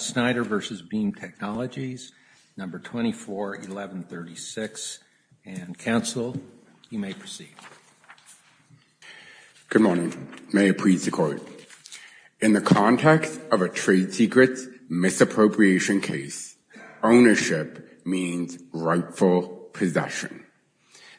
Schneider v. Beam Technologies, No. 241136. And counsel, you may proceed. Good morning. May it please the Court. In the context of a trade secrets misappropriation case, ownership means rightful possession.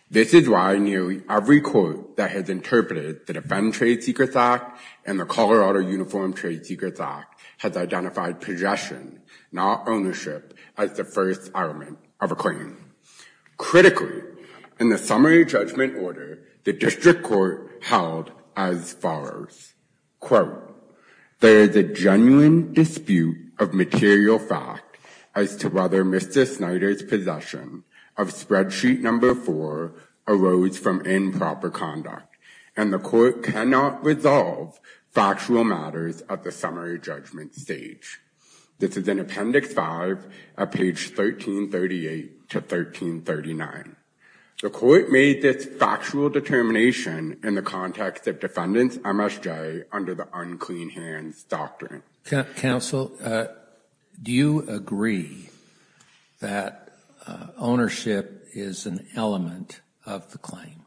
This is why nearly every court that has interpreted the Defend Trade Secrets Act and the Colorado Uniform Trade Secrets Act has identified possession, not ownership, as the first element of a claim. Critically, in the summary judgment order, the district court held as follows. Quote, there is a genuine dispute of material fact as to whether Mr. Schneider's possession of spreadsheet No. 4 arose from improper conduct, and the court cannot resolve factual matters at the summary judgment stage. This is in Appendix 5 at page 1338 to 1339. The court made this factual determination in the context of defendants MSJ under the unclean hands doctrine. Counsel, do you agree that ownership is an element of the claim?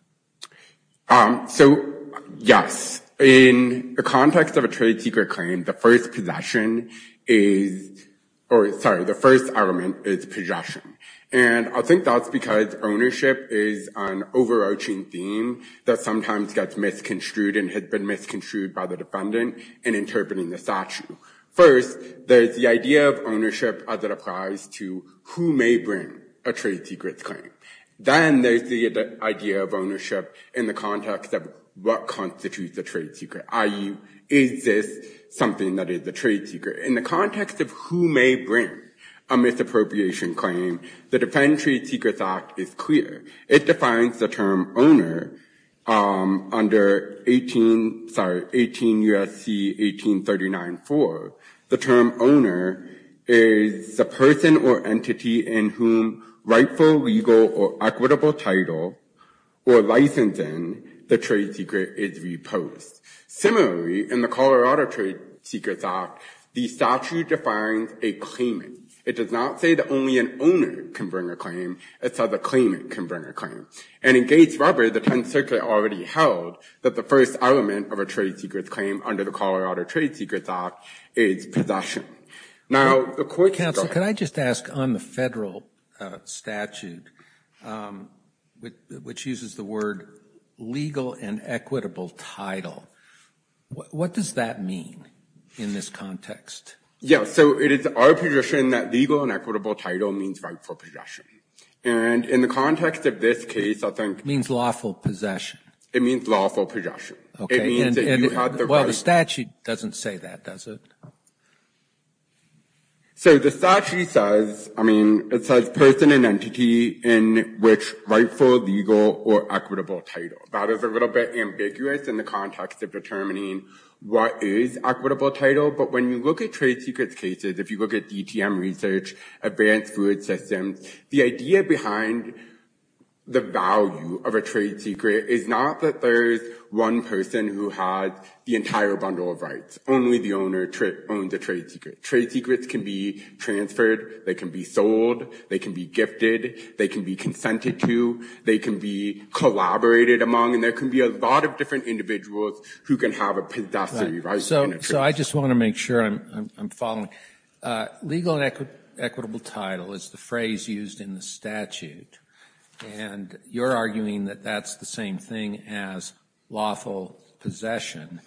So, yes. In the context of a trade secret claim, the first possession is, or sorry, the first element is possession. And I think that's because ownership is an overarching theme that sometimes gets misconstrued and has been misconstrued by the defendant in interpreting the statute. First, there's the idea of ownership as it applies to who may bring a trade secret claim. Then there's the idea of ownership in the context of what constitutes a trade secret, i.e., is this something that is a trade secret? In the context of who may bring a misappropriation claim, the Defendant Trade Secrets Act is clear. It defines the term owner under 18, sorry, 18 U.S.C. 1839-4. The term owner is the person or entity in whom rightful, legal, or equitable title or licensing the trade secret is reposed. Similarly, in the Colorado Trade Secrets Act, the statute defines a claimant. It does not say that only an owner can bring a claim. It says a claimant can bring a claim. And in Gates-Rubber, the 10th Circuit already held that the first element of a trade secret claim under the Colorado Trade Secrets Act is possession. Now, a quick question. Counsel, can I just ask on the federal statute, which uses the word legal and equitable title, what does that mean in this context? Yeah, so it is our position that legal and equitable title means rightful possession. And in the context of this case, I think. Means lawful possession. It means lawful possession. Okay. Well, the statute doesn't say that, does it? So the statute says, I mean, it says person and entity in which rightful, legal, or equitable title. That is a little bit ambiguous in the context of determining what is equitable title. But when you look at trade secrets cases, if you look at DTM research, advanced food systems, the idea behind the value of a trade secret is not that there's one person who has the entire bundle of rights. Only the owner owns a trade secret. Trade secrets can be transferred. They can be sold. They can be gifted. They can be consented to. They can be collaborated among. And there can be a lot of different individuals who can have a possessory right in a trade secret. So I just want to make sure I'm following. Legal and equitable title is the phrase used in the statute. And you're arguing that that's the same thing as lawful possession.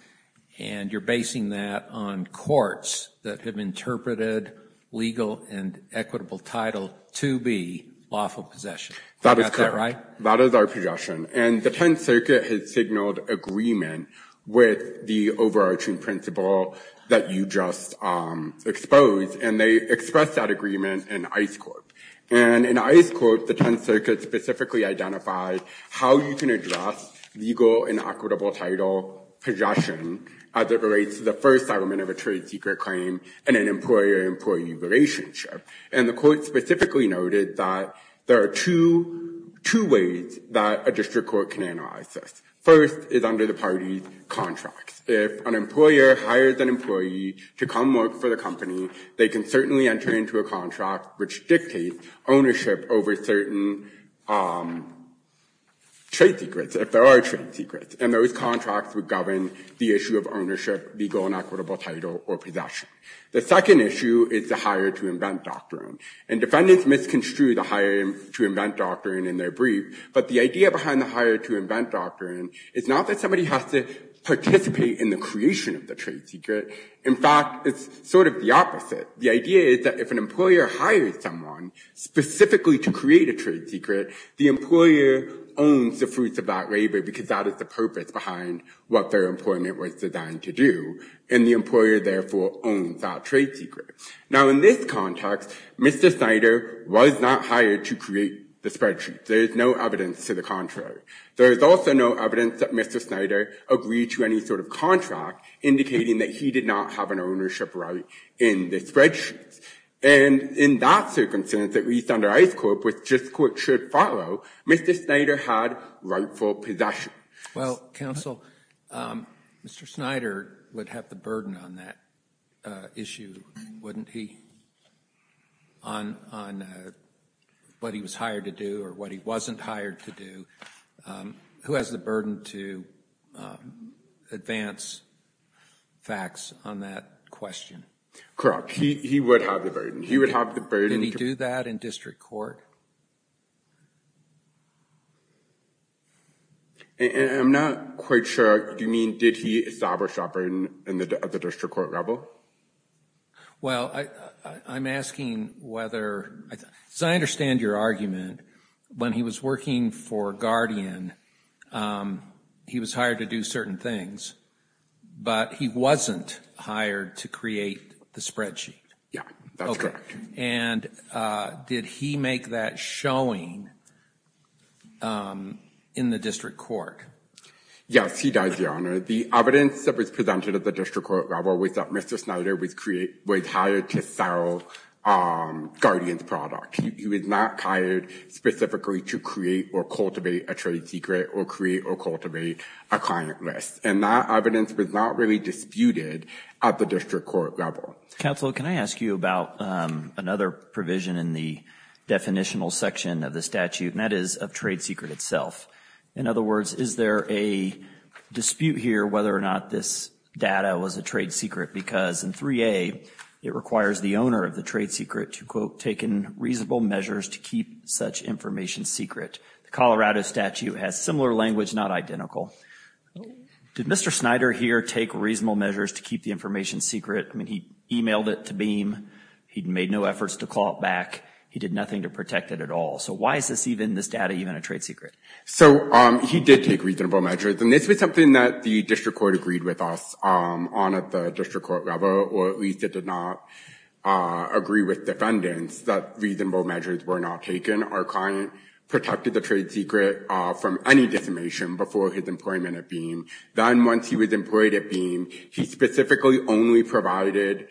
And you're basing that on courts that have interpreted legal and equitable title to be lawful possession. Is that right? That is our position. And the Penn Circuit has signaled agreement with the overarching principle that you just exposed. And they expressed that agreement in ICE court. And in ICE court, the Penn Circuit specifically identified how you can address legal and equitable title possession as it relates to the first element of a trade secret claim and an employer-employee relationship. And the court specifically noted that there are two ways that a district court can analyze this. First is under the party's contracts. If an employer hires an employee to come work for the company, they can certainly enter into a contract which dictates ownership over certain trade secrets, if there are trade secrets. And those contracts would govern the issue of ownership, legal and equitable title, or possession. The second issue is the hire-to-invent doctrine. And defendants misconstrue the hire-to-invent doctrine in their brief. But the idea behind the hire-to-invent doctrine is not that somebody has to participate in the creation of the trade secret. In fact, it's sort of the opposite. The idea is that if an employer hires someone specifically to create a trade secret, the employer owns the fruits of that labor because that is the purpose behind what their employment was designed to do. And the employer, therefore, owns that trade secret. Now, in this context, Mr. Snyder was not hired to create the spreadsheet. There is no evidence to the contrary. There is also no evidence that Mr. Snyder agreed to any sort of contract indicating that he did not have an ownership right in the spreadsheet. And in that circumstance, at least under Ice Corp., which district courts should follow, Mr. Snyder had rightful possession. Well, counsel, Mr. Snyder would have the burden on that issue, wouldn't he, on what he was hired to do or what he wasn't hired to do? Who has the burden to advance facts on that question? Correct. He would have the burden. He would have the burden. Did he do that in district court? And I'm not quite sure you mean, did he establish operating in the district court level? Well, I'm asking whether, as I understand your argument, when he was working for Guardian, he was hired to do certain things, but he wasn't hired to create the spreadsheet. Yeah, that's correct. And did he make that showing in the district court? Yes, he does, Your Honor. The evidence that was presented at the district court level was that Mr. Snyder was hired to sell Guardian's product. He was not hired specifically to create or cultivate a trade secret or create or cultivate a client list. And that evidence was not really disputed at the district court level. Counsel, can I ask you about another provision in the definitional section of the statute, and that is of trade secret itself. In other words, is there a dispute here whether or not this data was a trade secret? Because in 3A, it requires the owner of the trade secret to, quote, take in reasonable measures to keep such information secret. The Colorado statute has similar language, not identical. Did Mr. Snyder here take reasonable measures to keep information secret? I mean, he emailed it to BEAM. He made no efforts to call it back. He did nothing to protect it at all. So why is this data even a trade secret? So he did take reasonable measures, and this was something that the district court agreed with us on at the district court level, or at least it did not agree with defendants that reasonable measures were not taken. Our client protected the trade secret from any disinformation before his employment at BEAM. Then once he was employed at BEAM, he specifically only provided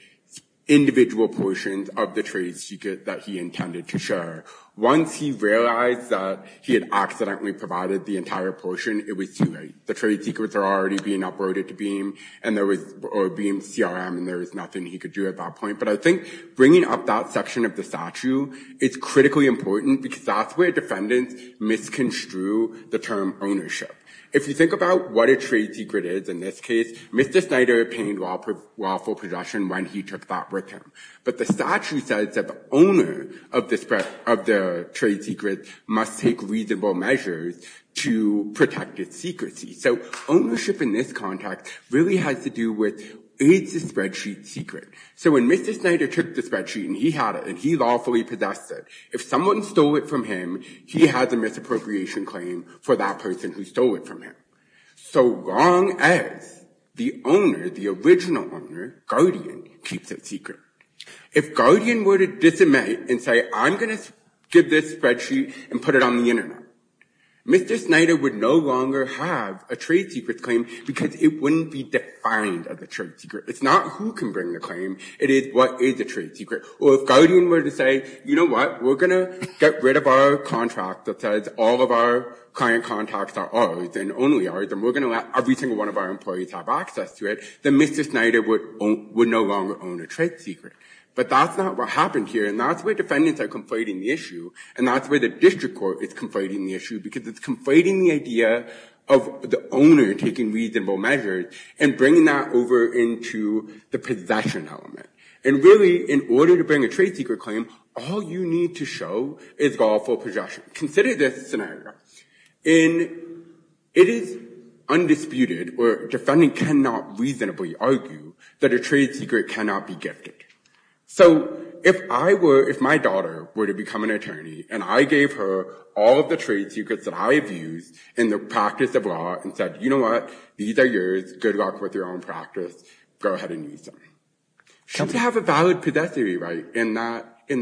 individual portions of the trade secret that he intended to share. Once he realized that he had accidentally provided the entire portion, it was too late. The trade secrets are already being uprooted to BEAM, or BEAM CRM, and there was nothing he could do at that point. But I think bringing up that section of the statute is critically important because that's where defendants misconstrue the term ownership. If you think about what a trade secret is in this case, Mr. Snyder obtained lawful possession when he took that with him. But the statute says that the owner of the trade secret must take reasonable measures to protect its secrecy. So ownership in this context really has to do with is the spreadsheet secret. So when Mr. Snyder took the spreadsheet and he had it and he lawfully possessed it, if someone stole it from him, he has a misappropriation claim for that person who stole it from him. So long as the owner, the original owner, Guardian, keeps it secret. If Guardian were to disinmit and say, I'm going to give this spreadsheet and put it on the internet, Mr. Snyder would no longer have a trade secrets claim because it wouldn't be defined as a trade secret. It's not who can bring the claim, it is what is a trade secret. Or if Guardian were to say, you know what, we're going to get rid of our contract that says all of our client contacts are ours and only ours, and we're going to let every single one of our employees have access to it, then Mr. Snyder would no longer own a trade secret. But that's not what happened here. And that's where defendants are conflating the issue. And that's where the district court is conflating the issue because it's conflating the idea of the owner taking reasonable measures and bringing that over into the possession element. And really, in order to bring a trade secret claim, all you need to show is lawful possession. Consider this scenario. It is undisputed, or defendants cannot reasonably argue, that a trade secret cannot be gifted. So if my daughter were to become an attorney, and I gave her all of the trade secrets that I have used in the practice of law and said, you know what, these are yours. Good luck with your own practice. Go ahead and use them. She would have a valid possessory right in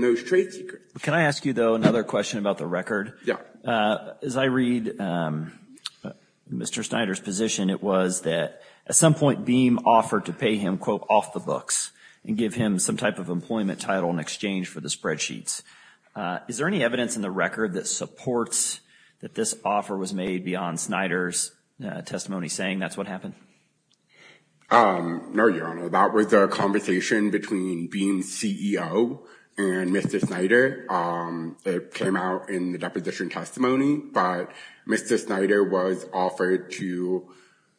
those trade secrets. Can I ask you, though, another question about the record? Yeah. As I read Mr. Snyder's position, it was that at some point, BEAM offered to pay him, quote, off the books and give him some type of employment title in exchange for the spreadsheets. Is there any evidence in the record that supports that this offer was made beyond Snyder's testimony saying that's what happened? No, Your Honor. That was a conversation between BEAM's CEO and Mr. Snyder that came out in the deposition testimony. But Mr. Snyder was offered to,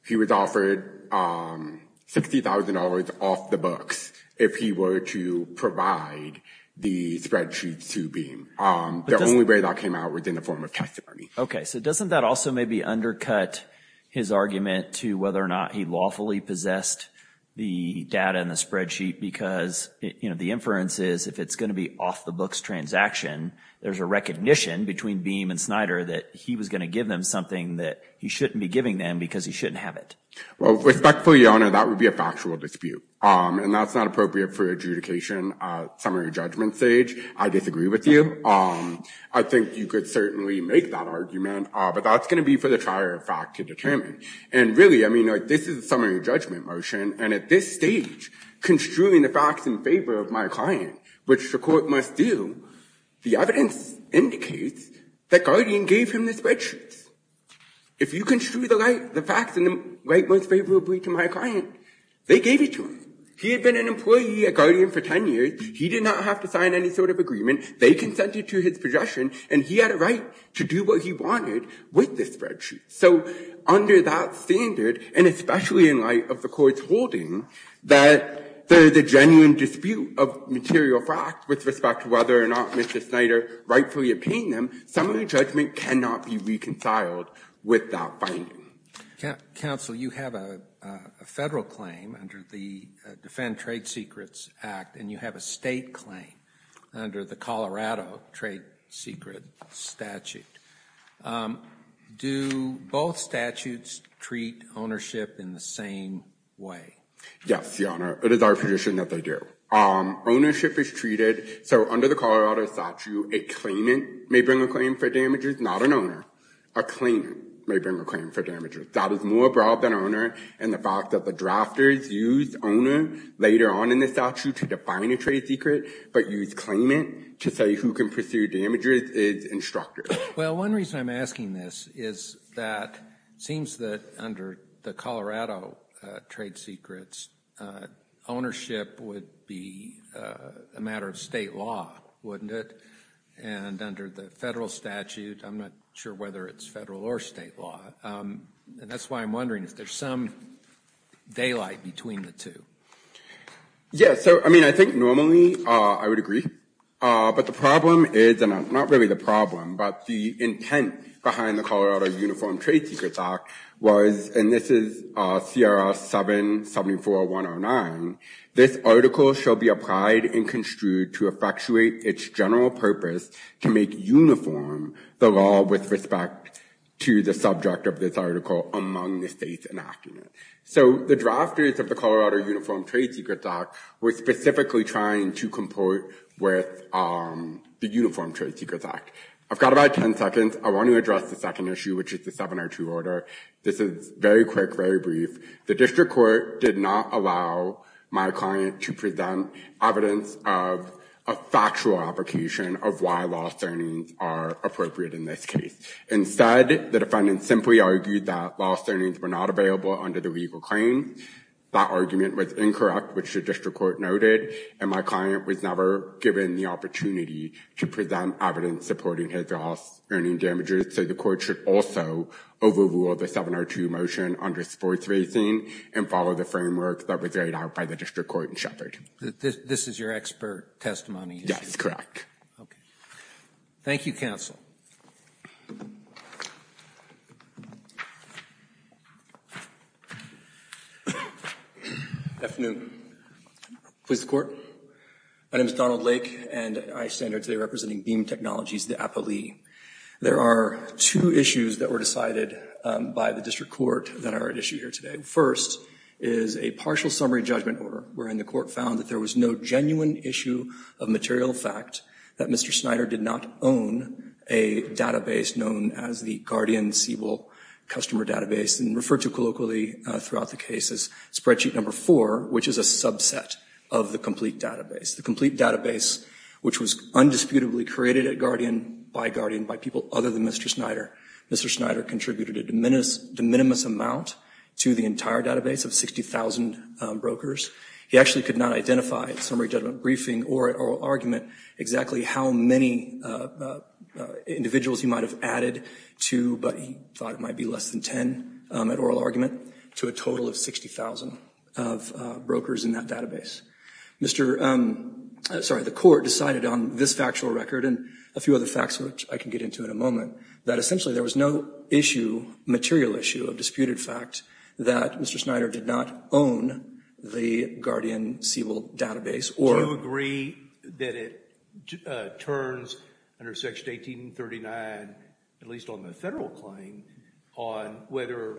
he was offered $60,000 off the books if he were to provide the spreadsheets to BEAM. The only way that came out was in the form of testimony. Okay. So doesn't that also maybe undercut his argument to whether or not he lawfully possessed the data in the spreadsheet? Because, you know, the inference is if it's going to be off the books transaction, there's a recognition between BEAM and Snyder that he was going to give them something that he shouldn't be giving them because he shouldn't have it. Well, respectfully, Your Honor, that would be a factual dispute. And that's not appropriate for adjudication, summary judgment stage. I disagree with you. I think you could certainly make that argument, but that's going to be for the trier of fact to determine. And really, I mean, this is a summary judgment motion. And at this stage, construing the facts in favor of my client, which the court must do, the evidence indicates that Guardian gave him the spreadsheets. If you construe the facts in the right most favorably to my client, they gave it to him. He had been an employee at Guardian for 10 years. He did not have to sign any sort of agreement. They consented to his projection, and he had a right to do what he wanted with the spreadsheet. So under that standard, and especially in light of the court's holding that there is a genuine dispute of material facts with respect to whether or not Mr. Snyder rightfully obtained them, summary judgment cannot be reconciled with that finding. Roberts. Counsel, you have a Federal claim under the Defend Trade Secrets Act, and you have a state claim under the Colorado trade secret statute. Do both statutes treat ownership in the same way? Yes, Your Honor. It is our position that they do. Ownership is treated, so under the Colorado statute, a claimant may bring a claim for damages, not an owner. A claimant may bring a claim for damages. That is more broad than owner, and the fact that the drafters used owner later on in the statute to define a trade secret but used claimant to say who can pursue damages is instructive. Well, one reason I'm asking this is that it seems that under the Colorado trade secrets, ownership would be a matter of state law, wouldn't it? And under the federal statute, I'm not sure whether it's federal or state law, and that's why I'm wondering if there's some daylight between the two. Yeah. So, I mean, I think normally I would agree, but the problem is, and not really the problem, but the intent behind the Colorado Uniform Trade Secrets Act was, and this is CRR 774-109, this article shall be applied and construed to effectuate its general purpose to make uniform the law with respect to the subject of this article among the states enacting it. So, the drafters of the Colorado Uniform Trade Secrets Act were specifically trying to comport with the Uniform Trade Secrets Act. I've got about 10 seconds. I want to address the second issue, which is the 702 order. This is very quick, very brief. The district court did not allow my client to present evidence of a factual application of why loss earnings are appropriate in this case. Instead, the defendant simply argued that loss earnings were not available under the legal claim. That argument was incorrect, which the district court noted, and my client was never given the opportunity to present evidence supporting his loss earning damages. So, the court should also overrule the 702 motion under sports racing and follow the framework that was laid out by the district court in Sheppard. This is your expert testimony? Yes, correct. Okay. Thank you, counsel. Good afternoon. Please, the court. My name is Donald Lake, and I stand here today representing Beam Technologies, the Apo Lee. There are two issues that were decided by the district court that are at issue here today. First is a partial summary judgment order, wherein the court found that there was no genuine issue of material fact that Mr. Snyder did not own a database known as the Guardian Siebel Customer Database, and referred to colloquially throughout the case as spreadsheet number four, which is a subset of the complete database. The complete database, which was undisputedly created at Guardian, by Guardian, by people other than Mr. Snyder. Mr. Snyder contributed a de minimis amount to the entire database of 60,000 brokers. He actually could not identify at summary judgment briefing or at oral argument exactly how many individuals he might have added to, but he thought it might be less than 10 at oral argument, to a total of 60,000 of brokers in that database. The court decided on this factual record and a few other facts, which I can get into in a moment, that essentially there was no issue, material issue, of disputed fact that Mr. Snyder did not own the Guardian Siebel Database. Do you agree that it turns under section 1839, at least on the federal claim, on whether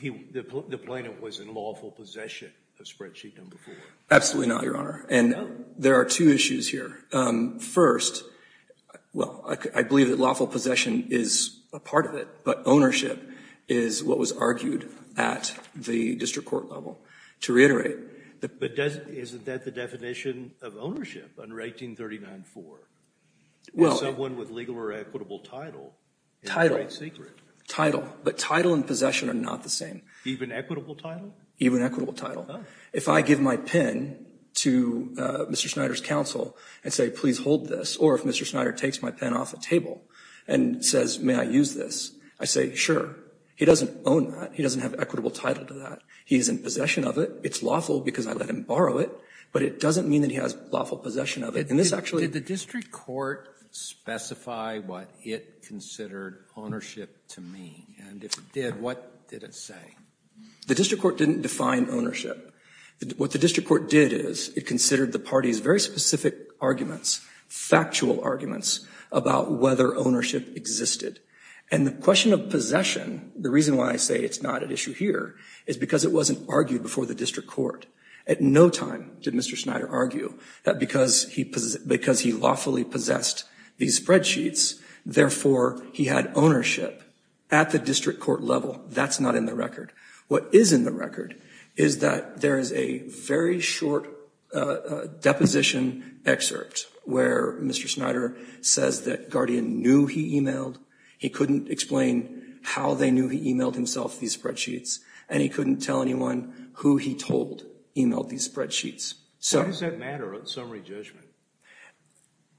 the plaintiff was in lawful possession of spreadsheet number four? Absolutely not, Your Honor, and there are two issues here. First, well, I believe that lawful possession is a part of it, but ownership is what was argued at the district court level. To reiterate, but doesn't, isn't that the definition of ownership under 1839-4? Well, someone with legal or equitable title, title, title, but title and possession are not the same. Even equitable title? Even equitable title. If I give my pin to Mr. Snyder's counsel and say, please hold this, or if Mr. Snyder takes my pen off the table and says, may I use this? I say, sure. He doesn't own that. He doesn't have equitable title to that. He is in possession of it. It's lawful because I let him borrow it, but it doesn't mean that he has lawful possession of it, and this actually- Did the district court specify what it considered ownership to mean, and if it did, what did it say? The district court didn't define ownership. What the district court did is it considered the party's very specific arguments, factual arguments, about whether ownership existed, and the question of possession, the reason why I say it's not at issue here is because it wasn't argued before the district court. At no time did Mr. Snyder argue that because he lawfully possessed these spreadsheets, therefore, he had ownership at the district court level. That's not in the record. What is in the record is that there is a very short deposition excerpt where Mr. Snyder says that Guardian knew he emailed, he couldn't explain how they knew he emailed himself these spreadsheets, and he couldn't tell anyone who he told emailed these spreadsheets. What does that matter on summary judgment?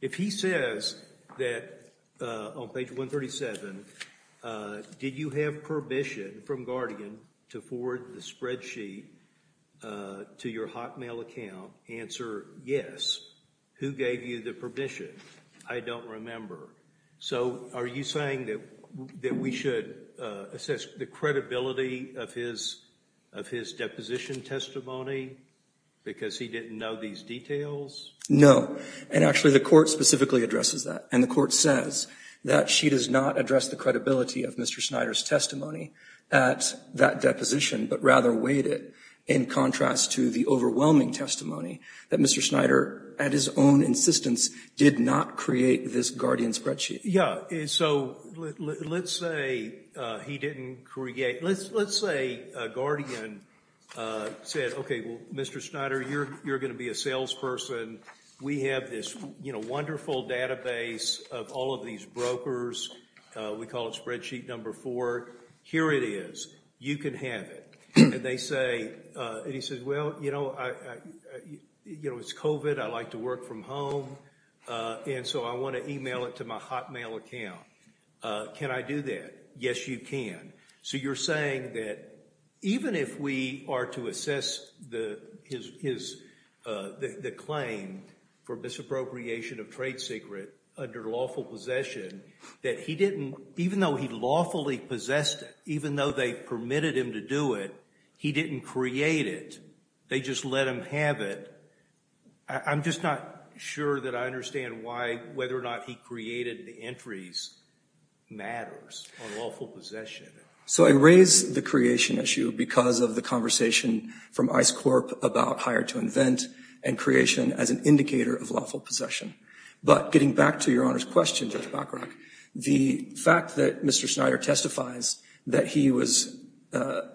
If he says that on page 137, did you have permission from Guardian to forward the spreadsheet to your Hotmail account? Answer, yes. Who gave you the permission? I don't remember. So are you saying that we should assess the credibility of his deposition testimony because he didn't know these details? No, and actually the court specifically addresses that, and the court says that she does not address the credibility of Mr. Snyder's testimony at that deposition, but rather weighed it in contrast to the overwhelming testimony that Mr. Snyder, at his own insistence, did not create this Guardian spreadsheet. Yeah, so let's say he didn't create, let's say Guardian said, okay, well, Mr. Snyder, you're going to be a salesperson. We have this wonderful database of all of these brokers. We call it spreadsheet number four. Here it is. You can have it, and they say, and he says, well, you know, it's COVID. I like to work from home, and so I want to email it to my Hotmail account. Can I do that? Yes, you can. So you're saying that even if we are to assess the claim for misappropriation of trade secret under lawful possession, that he didn't, even though he lawfully possessed it, even though they permitted him to do it, he didn't create it. They just let him have it. I'm just not sure that I understand why, whether or not he created the entries matters on lawful possession. So I raise the creation issue because of the conversation from ICE Corp about hire to invent and creation as an indicator of lawful possession, but getting back to Your Honor's question, Judge Bacharach, the fact that Mr. Snyder testifies that he was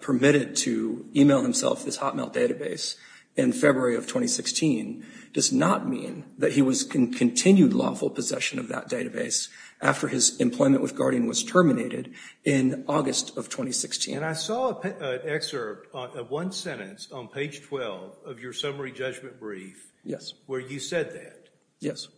permitted to email himself this Hotmail database in February of 2016 does not mean that he was in continued lawful possession of that database after his employment with Guardian was terminated in August of 2016. And I saw an excerpt of one sentence on page 12 of your summary judgment brief where you said that. Yes.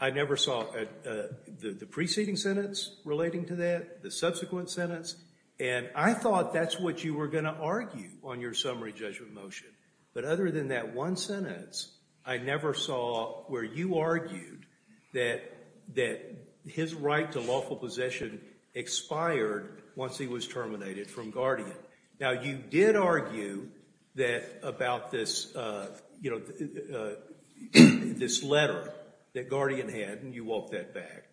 I never saw the preceding sentence relating to that, the subsequent sentence. And I thought that's what you were going to argue on your summary judgment motion. But other than that one sentence, I never saw where you argued that his right to lawful possession expired once he was terminated from Guardian. Now, you did argue that about this letter that Guardian had, and you walked that back.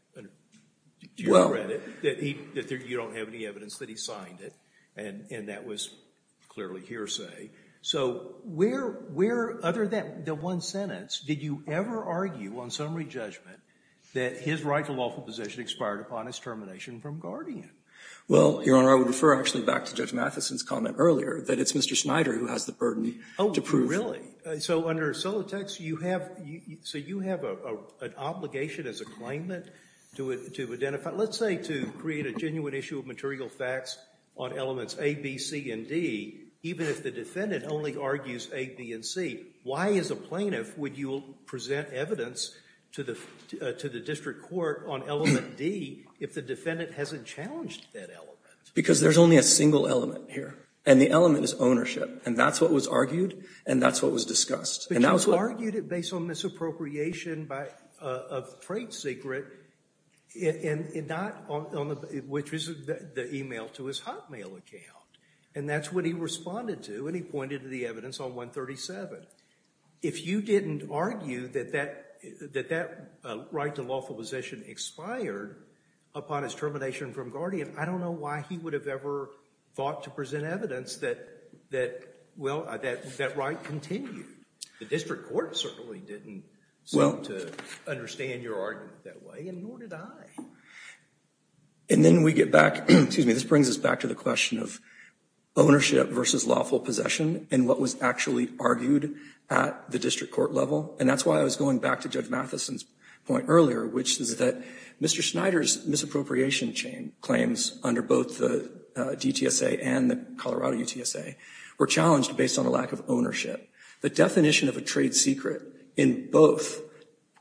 Do you regret it? That you don't have any evidence that he signed it, and that was clearly hearsay. So where, other than the one sentence, did you ever argue on summary judgment that his right to lawful possession expired upon his termination from Guardian? Well, Your Honor, I would refer actually back to Judge Mathison's comment earlier, that it's Mr. Snyder who has the burden to prove. Oh, really? So under Solotex, you have an obligation as a claimant to identify, let's say to create a genuine issue of material facts on elements A, B, C, and D, even if the defendant only argues A, B, and C, why as a plaintiff would you present evidence to the district court on element D if the defendant hasn't challenged that element? Because there's only a single element here, and the element is ownership, and that's what was argued, and that's what was discussed. But you argued it based on misappropriation of freight secret, which is the email to his Hotmail account, and that's what he responded to, and he pointed to the evidence on 137. If you didn't argue that that right to lawful possession expired upon his termination from Guardian, I don't know why he would have ever thought to present evidence that, well, that right continued. The district court certainly didn't seem to understand your argument that way, and nor did I. And then we get back, excuse me, this brings us back to the question of ownership versus lawful possession and what was actually argued at the district court level, and that's why I was going back to Judge Mathison's point earlier, which is that Mr. Schneider's misappropriation chain claims under both the DTSA and the Colorado UTSA were challenged based on a lack of ownership. The definition of a trade secret in both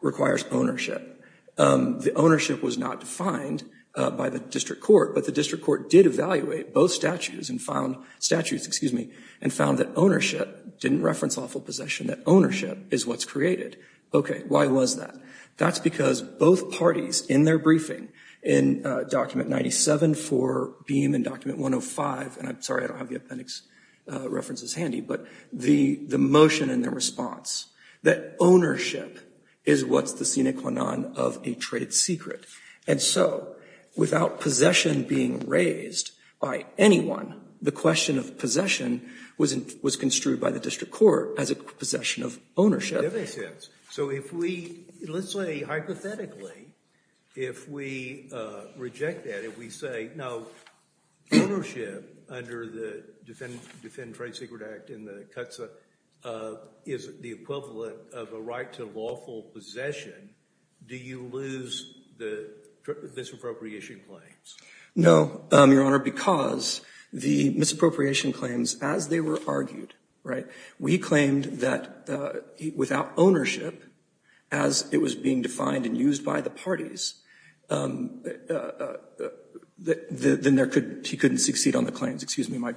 requires ownership. The ownership was not defined by the district court, but the district court did evaluate both statutes and found that ownership didn't reference lawful possession, that is what's created. Okay, why was that? That's because both parties in their briefing in document 97 for Beam and document 105, and I'm sorry I don't have the appendix references handy, but the motion and the response that ownership is what's the sine qua non of a trade secret. And so without possession being raised by anyone, the question of possession was construed by the ownership. That makes sense. So if we, let's say hypothetically, if we reject that, if we say, no, ownership under the Defend Trade Secret Act in the CTSA is the equivalent of a right to lawful possession, do you lose the misappropriation claims? No, Your Honor, because the misappropriation claims, as they were argued, right, we claimed that without ownership, as it was being defined and used by the parties, then he couldn't succeed on the claims. Excuse me, my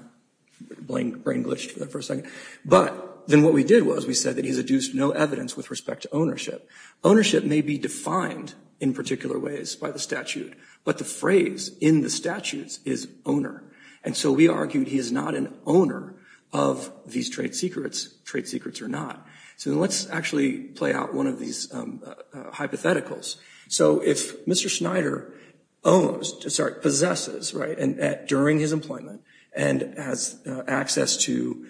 brain glitched for a second. But then what we did was we said that he's adduced no evidence with respect to ownership. Ownership may be defined in particular ways by the statute, but the phrase in the statutes is owner. And so we argued he is not an owner of these trade secrets, trade secrets or not. So let's actually play out one of these hypotheticals. So if Mr. Snyder owns, sorry, possesses, right, during his employment and has access to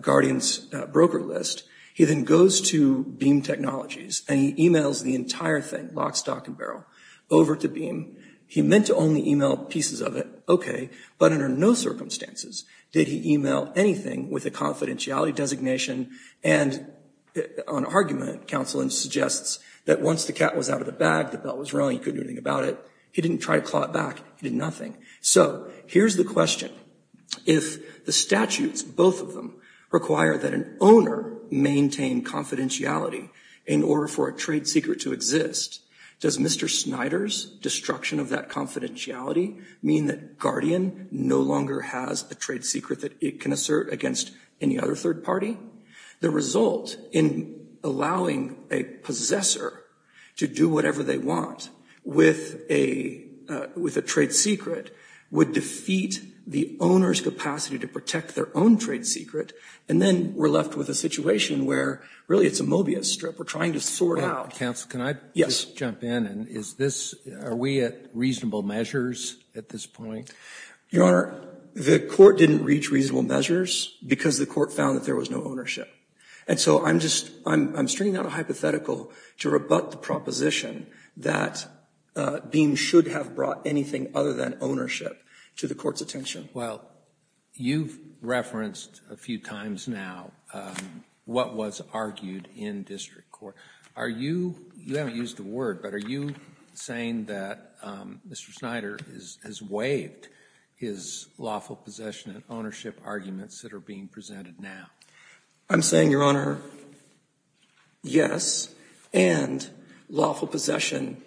Guardian's broker list, he then goes to Beam Technologies and he emails the entire thing, lock, stock and barrel, over to Beam. He meant to only email pieces of it, okay, but under no circumstances did he email anything with a confidentiality designation and on argument, counsel, and suggests that once the cat was out of the bag, the bell was rung, he couldn't do anything about it. He didn't try to claw it back. He did nothing. So here's the question. If the statutes, both of them, require that an owner maintain confidentiality in order for a broker to maintain confidentiality, does confidentiality mean that Guardian no longer has a trade secret that it can assert against any other third party? The result in allowing a possessor to do whatever they want with a trade secret would defeat the owner's capacity to protect their own trade secret, and then we're left with a situation where really it's a Mobius strip. We're trying to sort out. Counsel, can I just jump in and is this, are we at reasonable measures at this point? Your Honor, the court didn't reach reasonable measures because the court found that there was no ownership, and so I'm just, I'm stringing out a hypothetical to rebut the proposition that Beam should have brought anything other than ownership to the court's attention. Well, you've referenced a few times now what was argued in district court. Are you, you haven't used the word, but are you saying that Mr. Snyder has waived his lawful possession and ownership arguments that are being presented now? I'm saying, Your Honor, yes, and lawful possession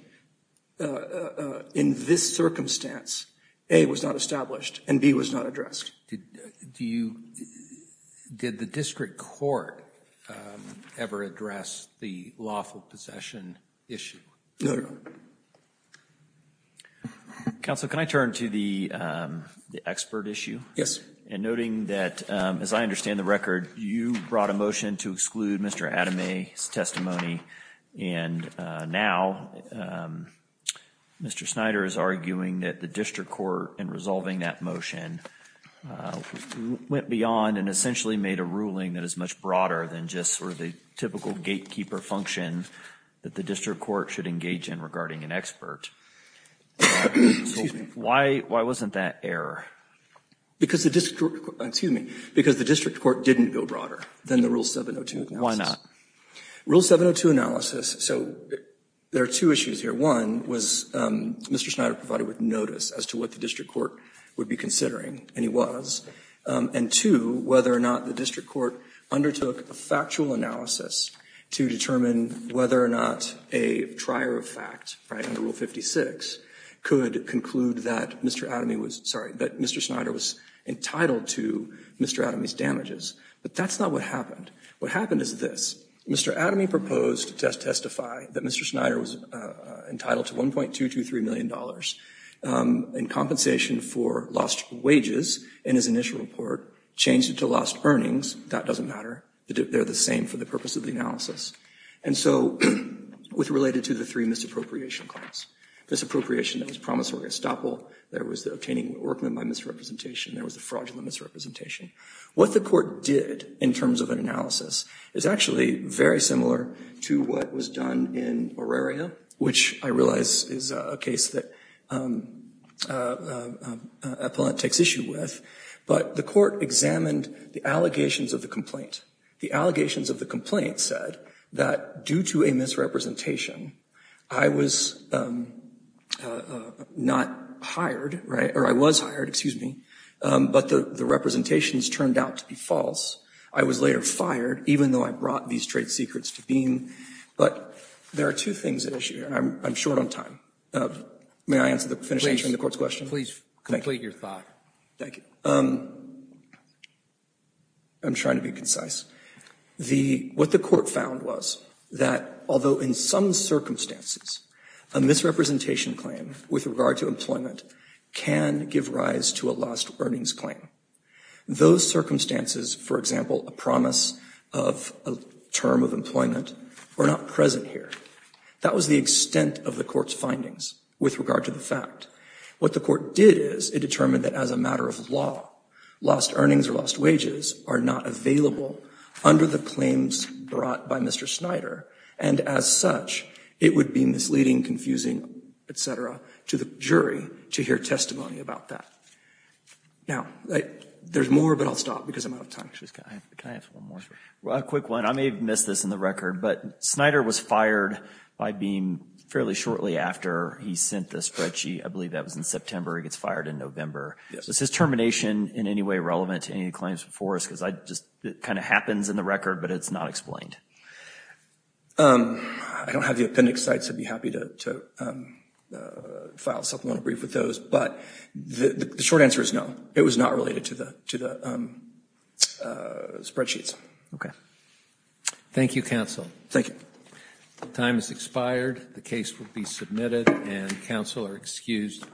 in this circumstance, A, was not established and B, was not addressed. Do you, did the district court ever address the lawful possession issue? No, Your Honor. Counsel, can I turn to the expert issue? Yes. And noting that, as I understand the record, you brought a motion to exclude Mr. Adame's testimony and now Mr. Snyder is arguing that the district court, in resolving that motion, went beyond and essentially made a ruling that is much broader than just sort of the typical gatekeeper function that the district court should engage in regarding an expert. Excuse me. Why, why wasn't that error? Because the district, excuse me, because the district court didn't go broader than the Rule 702. Why not? Rule 702 analysis, so there are two issues here. One was Mr. Snyder provided with notice as to what the district court would be considering, and he was. And two, whether or not the district court undertook a factual analysis to determine whether or not a trier of fact, right, under Rule 56 could conclude that Mr. Adame was, sorry, that Mr. Snyder was entitled to Mr. Adame's damages. But that's not what happened. What happened is this. Mr. Adame proposed to testify that Mr. Snyder was entitled to $1.223 million in compensation for lost wages in his initial report, changed it to lost earnings. That doesn't matter. They're the same for the purpose of the analysis. And so with related to the three misappropriation claims, misappropriation that was promissory estoppel, there was the obtaining workman by misrepresentation, there was the fraudulent misrepresentation. What the court did in terms of an analysis is actually very similar to what was done in Auraria, which I realize is a case that Appellant takes issue with, but the court examined the allegations of the complaint. The allegations of the complaint said that due to a misrepresentation, I was not hired, right, or I was hired, excuse me, but the representations turned out to be false. I was later fired, even though I brought these trade secrets to being. But there are two things at issue, and I'm short on time. May I finish answering the court's question? Please complete your thought. Thank you. I'm trying to be concise. What the court found was that although in some circumstances, a misrepresentation claim with regard to employment can give rise to a lost earnings claim. Those circumstances, for example, a promise of a term of employment, were not present here. That was the extent of the court's findings with regard to the fact. What the court did is it determined that as a matter of law, lost earnings or lost wages are not available under the claims brought by Mr. Snyder, and as such, it would be misleading, confusing, etc. to the jury to hear testimony about that. Now, there's more, but I'll stop because I'm out of time. Can I ask one more? A quick one. I may have missed this in the record, but Snyder was fired by being fairly shortly after he sent the spreadsheet. I believe that was in September. He gets fired in November. Is his termination in any way relevant to any of the claims before us? Because it just kind of happens in the record, but it's not explained. I don't have the appendix, so I'd be happy to file a supplemental brief with those, but the short answer is no. It was not related to the spreadsheets. Okay. Thank you, counsel. Thank you. The time has expired. The case will be submitted and counsel are excused.